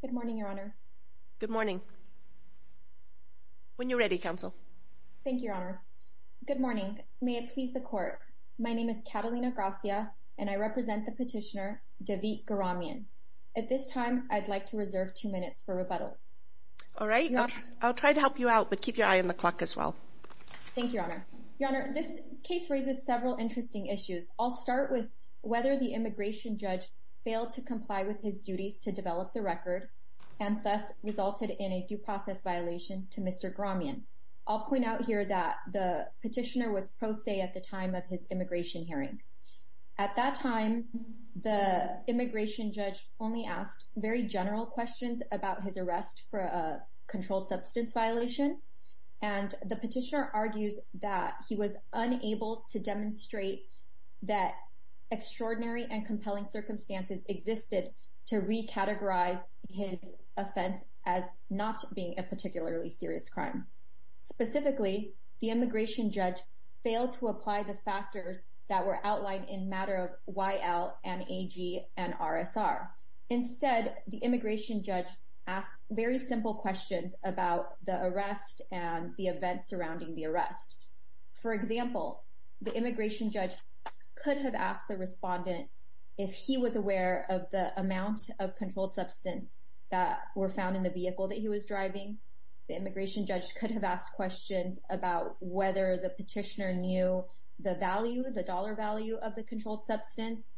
Good morning, Your Honors. Good morning. When you're ready, Counsel. Thank you, Your Honors. Good morning. May it please the Court, my name is Catalina Gracia, and I represent the petitioner, David Grahamanyan. At this time, I'd like to reserve two minutes for rebuttals. All right. I'll try to help you out, but keep your eye on the clock as well. Thank you, Your Honor. Your Honor, this case raises several interesting issues. I'll start with whether the immigration judge failed to comply with his duties to develop the record, and thus resulted in a due process violation to Mr. Grahamanyan. I'll point out here that the petitioner was pro se at the time of his immigration hearing. At that time, the immigration judge only asked very general questions about his arrest for a controlled substance violation, and the petitioner argues that he was unable to demonstrate that extraordinary and compelling circumstances existed to recategorize his offense as not being a particularly serious crime. Specifically, the immigration judge failed to apply the factors that were outlined in matter of YL and AG and RSR. Instead, the immigration judge asked very simple questions about the arrest and the events surrounding the arrest. For example, the immigration judge could have asked the respondent if he was aware of the amount of controlled substance that were found in the vehicle that he was driving. The immigration judge could have asked questions about whether the petitioner knew the value, the dollar value of the controlled substance.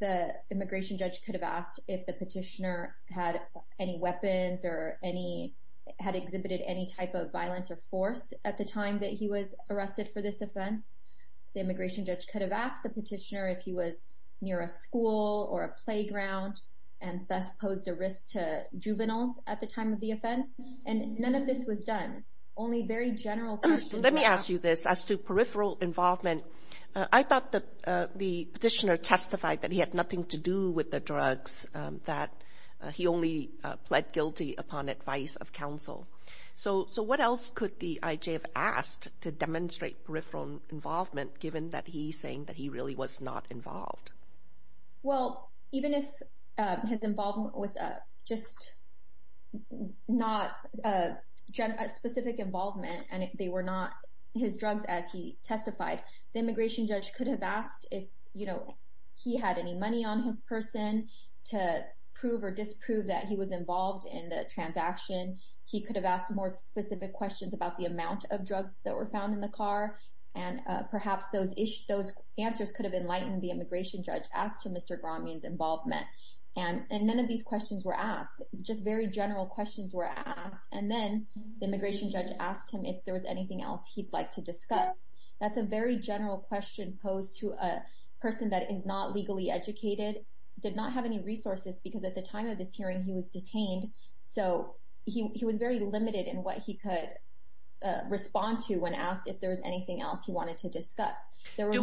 The immigration judge could have asked if the petitioner had any weapons or had exhibited any type of violence or force at the time that he was arrested for this offense. The immigration judge could have asked the petitioner if he was near a school or a playground and thus posed a risk to juveniles at the time of the offense, and none of this was done. Only very general questions... Let me ask you this. As to peripheral involvement, I thought the petitioner testified that he only pled guilty upon advice of counsel. So what else could the IJ have asked to demonstrate peripheral involvement given that he's saying that he really was not involved? Well, even if his involvement was just not a specific involvement and they were not his drugs as he testified, the immigration judge could have asked if he had any money on his person to prove or disprove that he was involved in the transaction. He could have asked more specific questions about the amount of drugs that were found in the car, and perhaps those answers could have enlightened the immigration judge as to Mr. Grameen's involvement. And none of these questions were asked. Just very general questions were asked, and then the immigration judge asked him if there was anything else he'd like to discuss. That's a very general question posed to a person that is not legally educated, did not have any resources, because at the time of this hearing, he was detained. So he was very limited in what he could respond to when asked if there was anything else he wanted to discuss. Do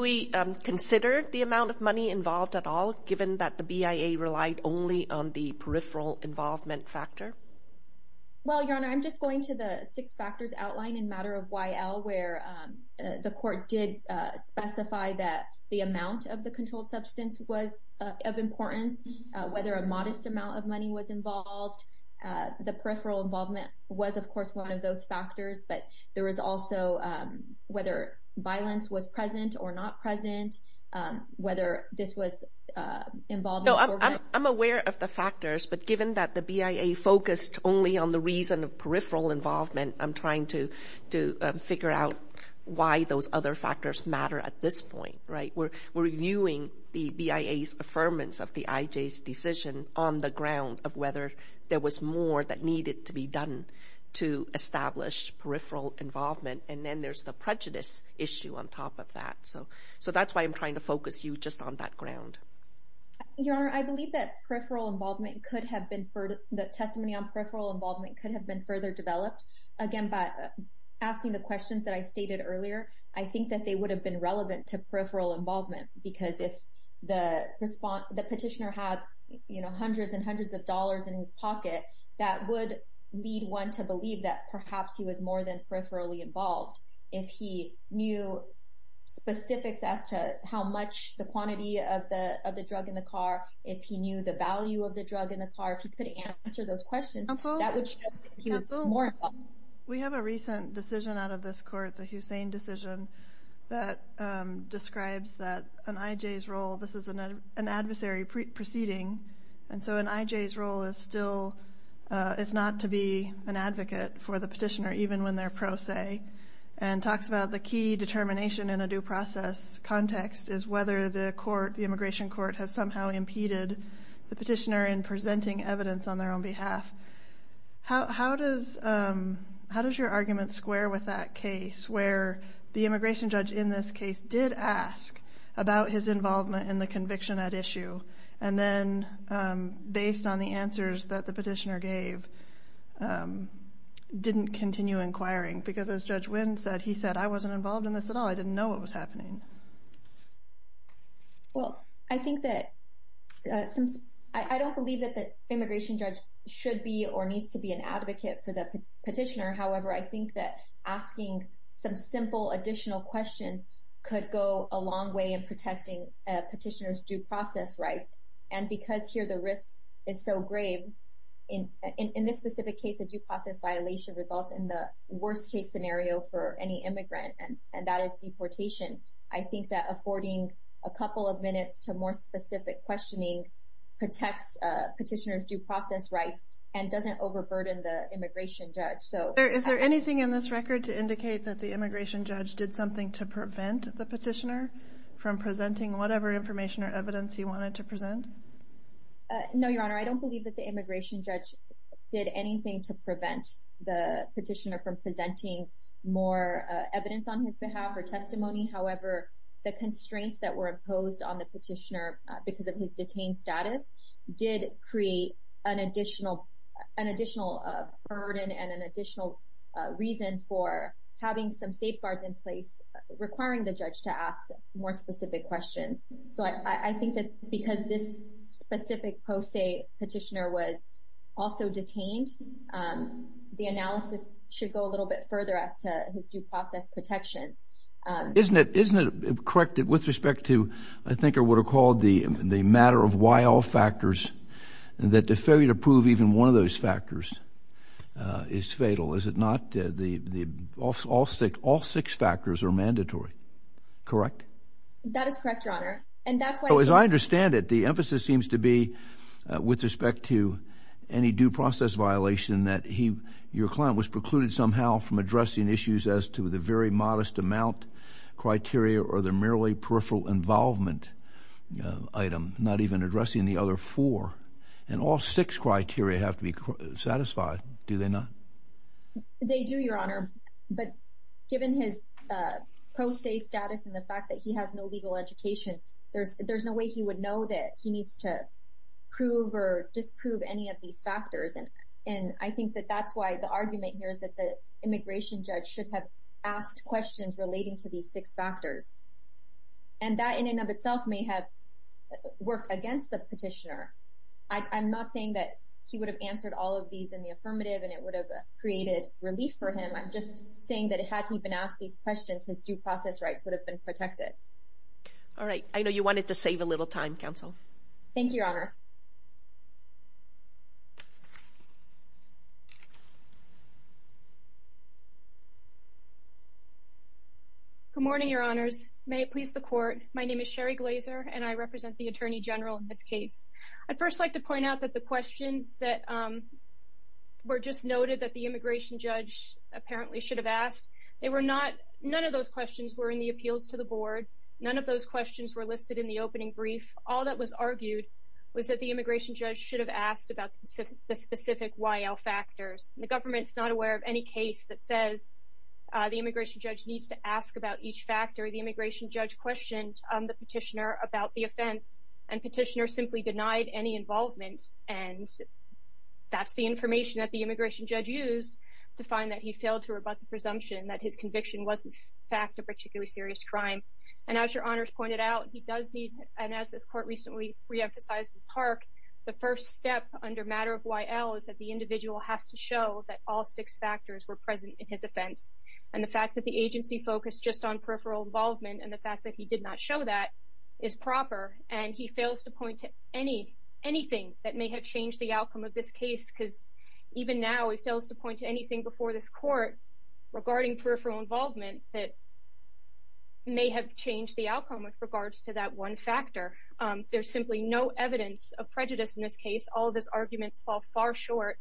we consider the amount of money involved at all, given that the BIA relied only on the peripheral involvement factor? Well, Your Honor, I'm just going to the six factors outlined in matter of YL where the court did specify that the amount of the controlled substance was of importance, whether a modest amount of money was involved. The peripheral involvement was, of course, one of those factors, but there was also whether violence was present or not present, whether this was involved... No, I'm aware of the factors, but given that the BIA focused only on the reason of peripheral involvement, I'm trying to figure out why those other factors matter at this point, right? We're reviewing the BIA's affirmance of the IJ's decision on the ground of whether there was more that needed to be done to establish peripheral involvement, and then there's the prejudice issue on top of that. So that's why I'm trying to focus you just on that ground. Your Honor, I believe that peripheral involvement could have been... that testimony on peripheral involvement could have been further developed. Again, by asking the questions that I stated earlier, I think that they would have been relevant to peripheral involvement because if the petitioner had hundreds and hundreds of dollars in his pocket, that would lead one to believe that perhaps he was more than peripherally involved. If he knew specifics as to how much the quantity of the drug in the car, if he knew the value of the drug in the car, if he could answer those questions, that would show that he was more involved. We have a recent decision out of this court, the Hussain decision, that describes that an IJ's role, this is an adversary proceeding, and so an IJ's role is not to be an advocate for the petitioner even when they're pro se and talks about the key determination in a due process context is whether the immigration court has somehow impeded the petitioner in presenting evidence on their own behalf. How does your argument square with that case where the immigration judge in this case did ask about his involvement in the conviction at issue and then based on the answers that the petitioner gave didn't continue inquiring because as Judge Wynn said, he said, I wasn't involved in this at all, I didn't know what was happening. Well, I think that, I don't believe that the immigration judge should be or needs to be an advocate for the petitioner, however I think that asking some simple additional questions could go a long way in protecting a petitioner's due process rights and because here the risk is so grave, in this specific case a due process violation results in the worst case scenario for any immigrant and that is deportation. I think that affording a couple of minutes to more specific questioning protects petitioner's due process rights and doesn't overburden the immigration judge. Is there anything in this record to indicate that the immigration judge did something to prevent the petitioner from presenting whatever information or evidence he wanted to present? No, Your Honor, I don't believe that the immigration judge did anything to prevent the petitioner from presenting more evidence on his behalf or testimony, however the constraints that were imposed on the petitioner because of his detained status did create an additional burden and an additional reason for having some safeguards in place requiring the judge to ask more specific questions. So I think that because this specific post-state petitioner was also detained, the analysis should go a little bit further as to his due process protections. Isn't it correct that with respect to, I think, what are called the matter of why all factors, that the failure to prove even one of those factors is fatal, is it not? All six factors are mandatory, correct? That is correct, Your Honor. As I understand it, the emphasis seems to be with respect to any due process violation that your client was precluded somehow from addressing issues as to the very modest amount criteria or the merely peripheral involvement item, not even addressing the other four. And all six criteria have to be satisfied, do they not? They do, Your Honor. But given his post-state status and the fact that he has no legal education, there's no way he would know that he needs to prove or disprove any of these factors. And I think that that's why the argument here is that the immigration judge should have asked questions relating to these six factors. And that, in and of itself, may have worked against the petitioner. I'm not saying that he would have answered all of these in the affirmative and it would have created relief for him. I'm just saying that had he been asked these questions, his due process rights would have been protected. All right. I know you wanted to save a little time, counsel. Thank you, Your Honor. Good morning, Your Honors. May it please the Court. My name is Sherry Glazer, and I represent the Attorney General in this case. I'd first like to point out that the questions that were just noted that the immigration judge apparently should have asked, none of those questions were in the appeals to the board. None of those questions were listed in the opening brief. All that was argued was that the immigration judge should have asked about the specific YL factors. The government's not aware of any case that says the immigration judge needs to ask about each factor. The immigration judge questioned the petitioner about the offense, and petitioner simply denied any involvement. And that's the information that the immigration judge used to find that he failed to rebut the presumption that his conviction was, in fact, a particularly serious crime. And as Your Honors pointed out, he does need, and as this Court recently reemphasized in Park, the first step under matter of YL is that the individual has to show that all six factors were present in his offense. And the fact that the agency focused just on peripheral involvement and the fact that he did not show that is proper, and he fails to point to anything that may have changed the outcome of this case, because even now he fails to point to anything before this Court regarding peripheral involvement that may have changed the outcome with regards to that one factor. There's simply no evidence of prejudice in this case. All of his arguments fall far short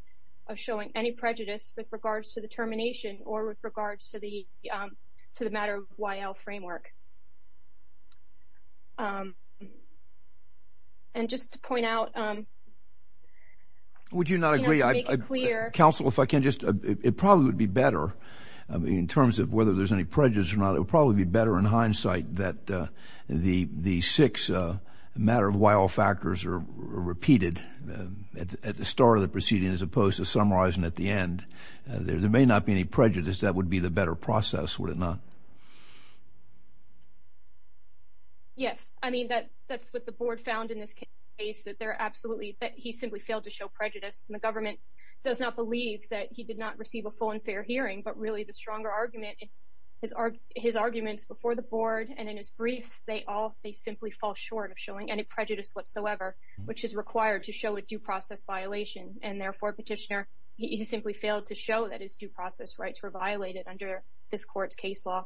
of showing any prejudice with regards to the termination or with regards to the matter of YL framework. And just to point out... Would you not agree, Counsel, if I can just... It probably would be better, in terms of whether there's any prejudice or not, it would probably be better in hindsight that the six matter of YL factors are repeated at the start of the proceeding as opposed to summarizing at the end. There may not be any prejudice. That would be the better process, would it not? Yes. I mean, that's what the Board found in this case, that he simply failed to show prejudice. And the government does not believe that he did not receive a full and fair hearing, but really the stronger argument is his arguments before the Board and in his briefs, they simply fall short of showing any prejudice whatsoever, which is required to show a due process violation. And therefore, Petitioner, he simply failed to show that his due process rights were violated under this Court's case law.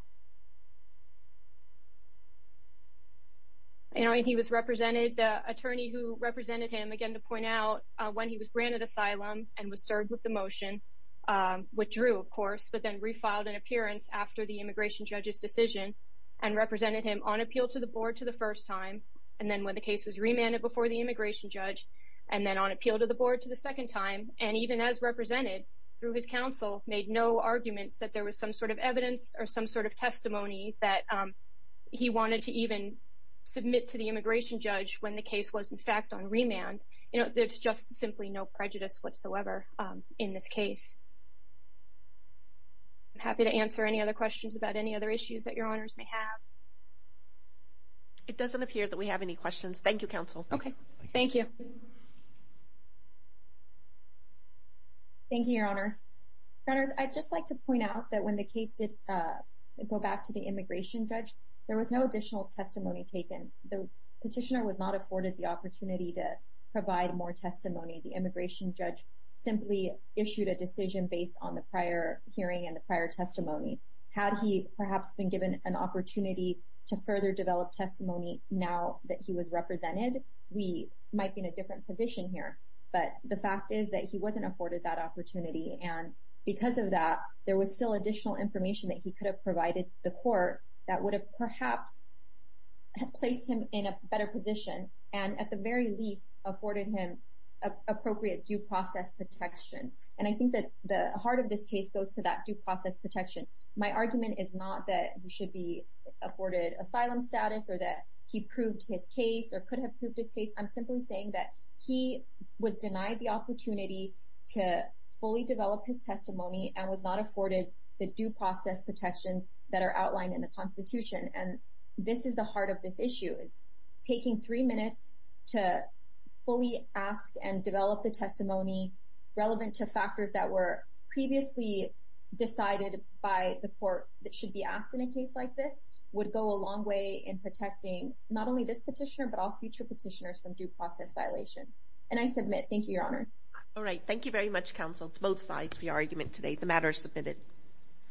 And he was represented... The attorney who represented him, again, to point out, when he was granted asylum and was served with the motion, withdrew, of course, but then refiled an appearance after the immigration judge's decision and represented him on appeal to the Board for the first time, and then when the case was remanded before the immigration judge, and then on appeal to the Board for the second time, and even as represented through his counsel, made no arguments that there was some sort of evidence or some sort of testimony that he wanted to even submit to the immigration judge when the case was, in fact, on remand. You know, there's just simply no prejudice whatsoever in this case. I'm happy to answer any other questions about any other issues that Your Honors may have. It doesn't appear that we have any questions. Thank you, Counsel. Okay. Thank you. Thank you, Your Honors. Your Honors, I'd just like to point out that when the case did go back to the immigration judge, there was no additional testimony taken. The petitioner was not afforded the opportunity to provide more testimony. The immigration judge simply issued a decision based on the prior hearing and the prior testimony. Had he perhaps been given an opportunity to further develop testimony now that he was represented, we might be in a different position here, but the fact is that he wasn't afforded that opportunity, and because of that, there was still additional information that he could have provided the court that would have perhaps placed him in a better position and at the very least afforded him appropriate due process protection. And I think that the heart of this case goes to that due process protection. My argument is not that he should be afforded asylum status or that he proved his case or could have proved his case. I'm simply saying that he was denied the opportunity to fully develop his testimony and was not afforded the due process protection that are outlined in the Constitution, and this is the heart of this issue. It's taking three minutes to fully ask and develop the testimony relevant to factors that were previously decided by the court that should be asked in a case like this would go a long way in protecting not only this petitioner but all future petitioners from due process violations. And I submit. Thank you, Your Honors. All right. Thank you very much, counsel, to both sides for your argument today. The matter is submitted.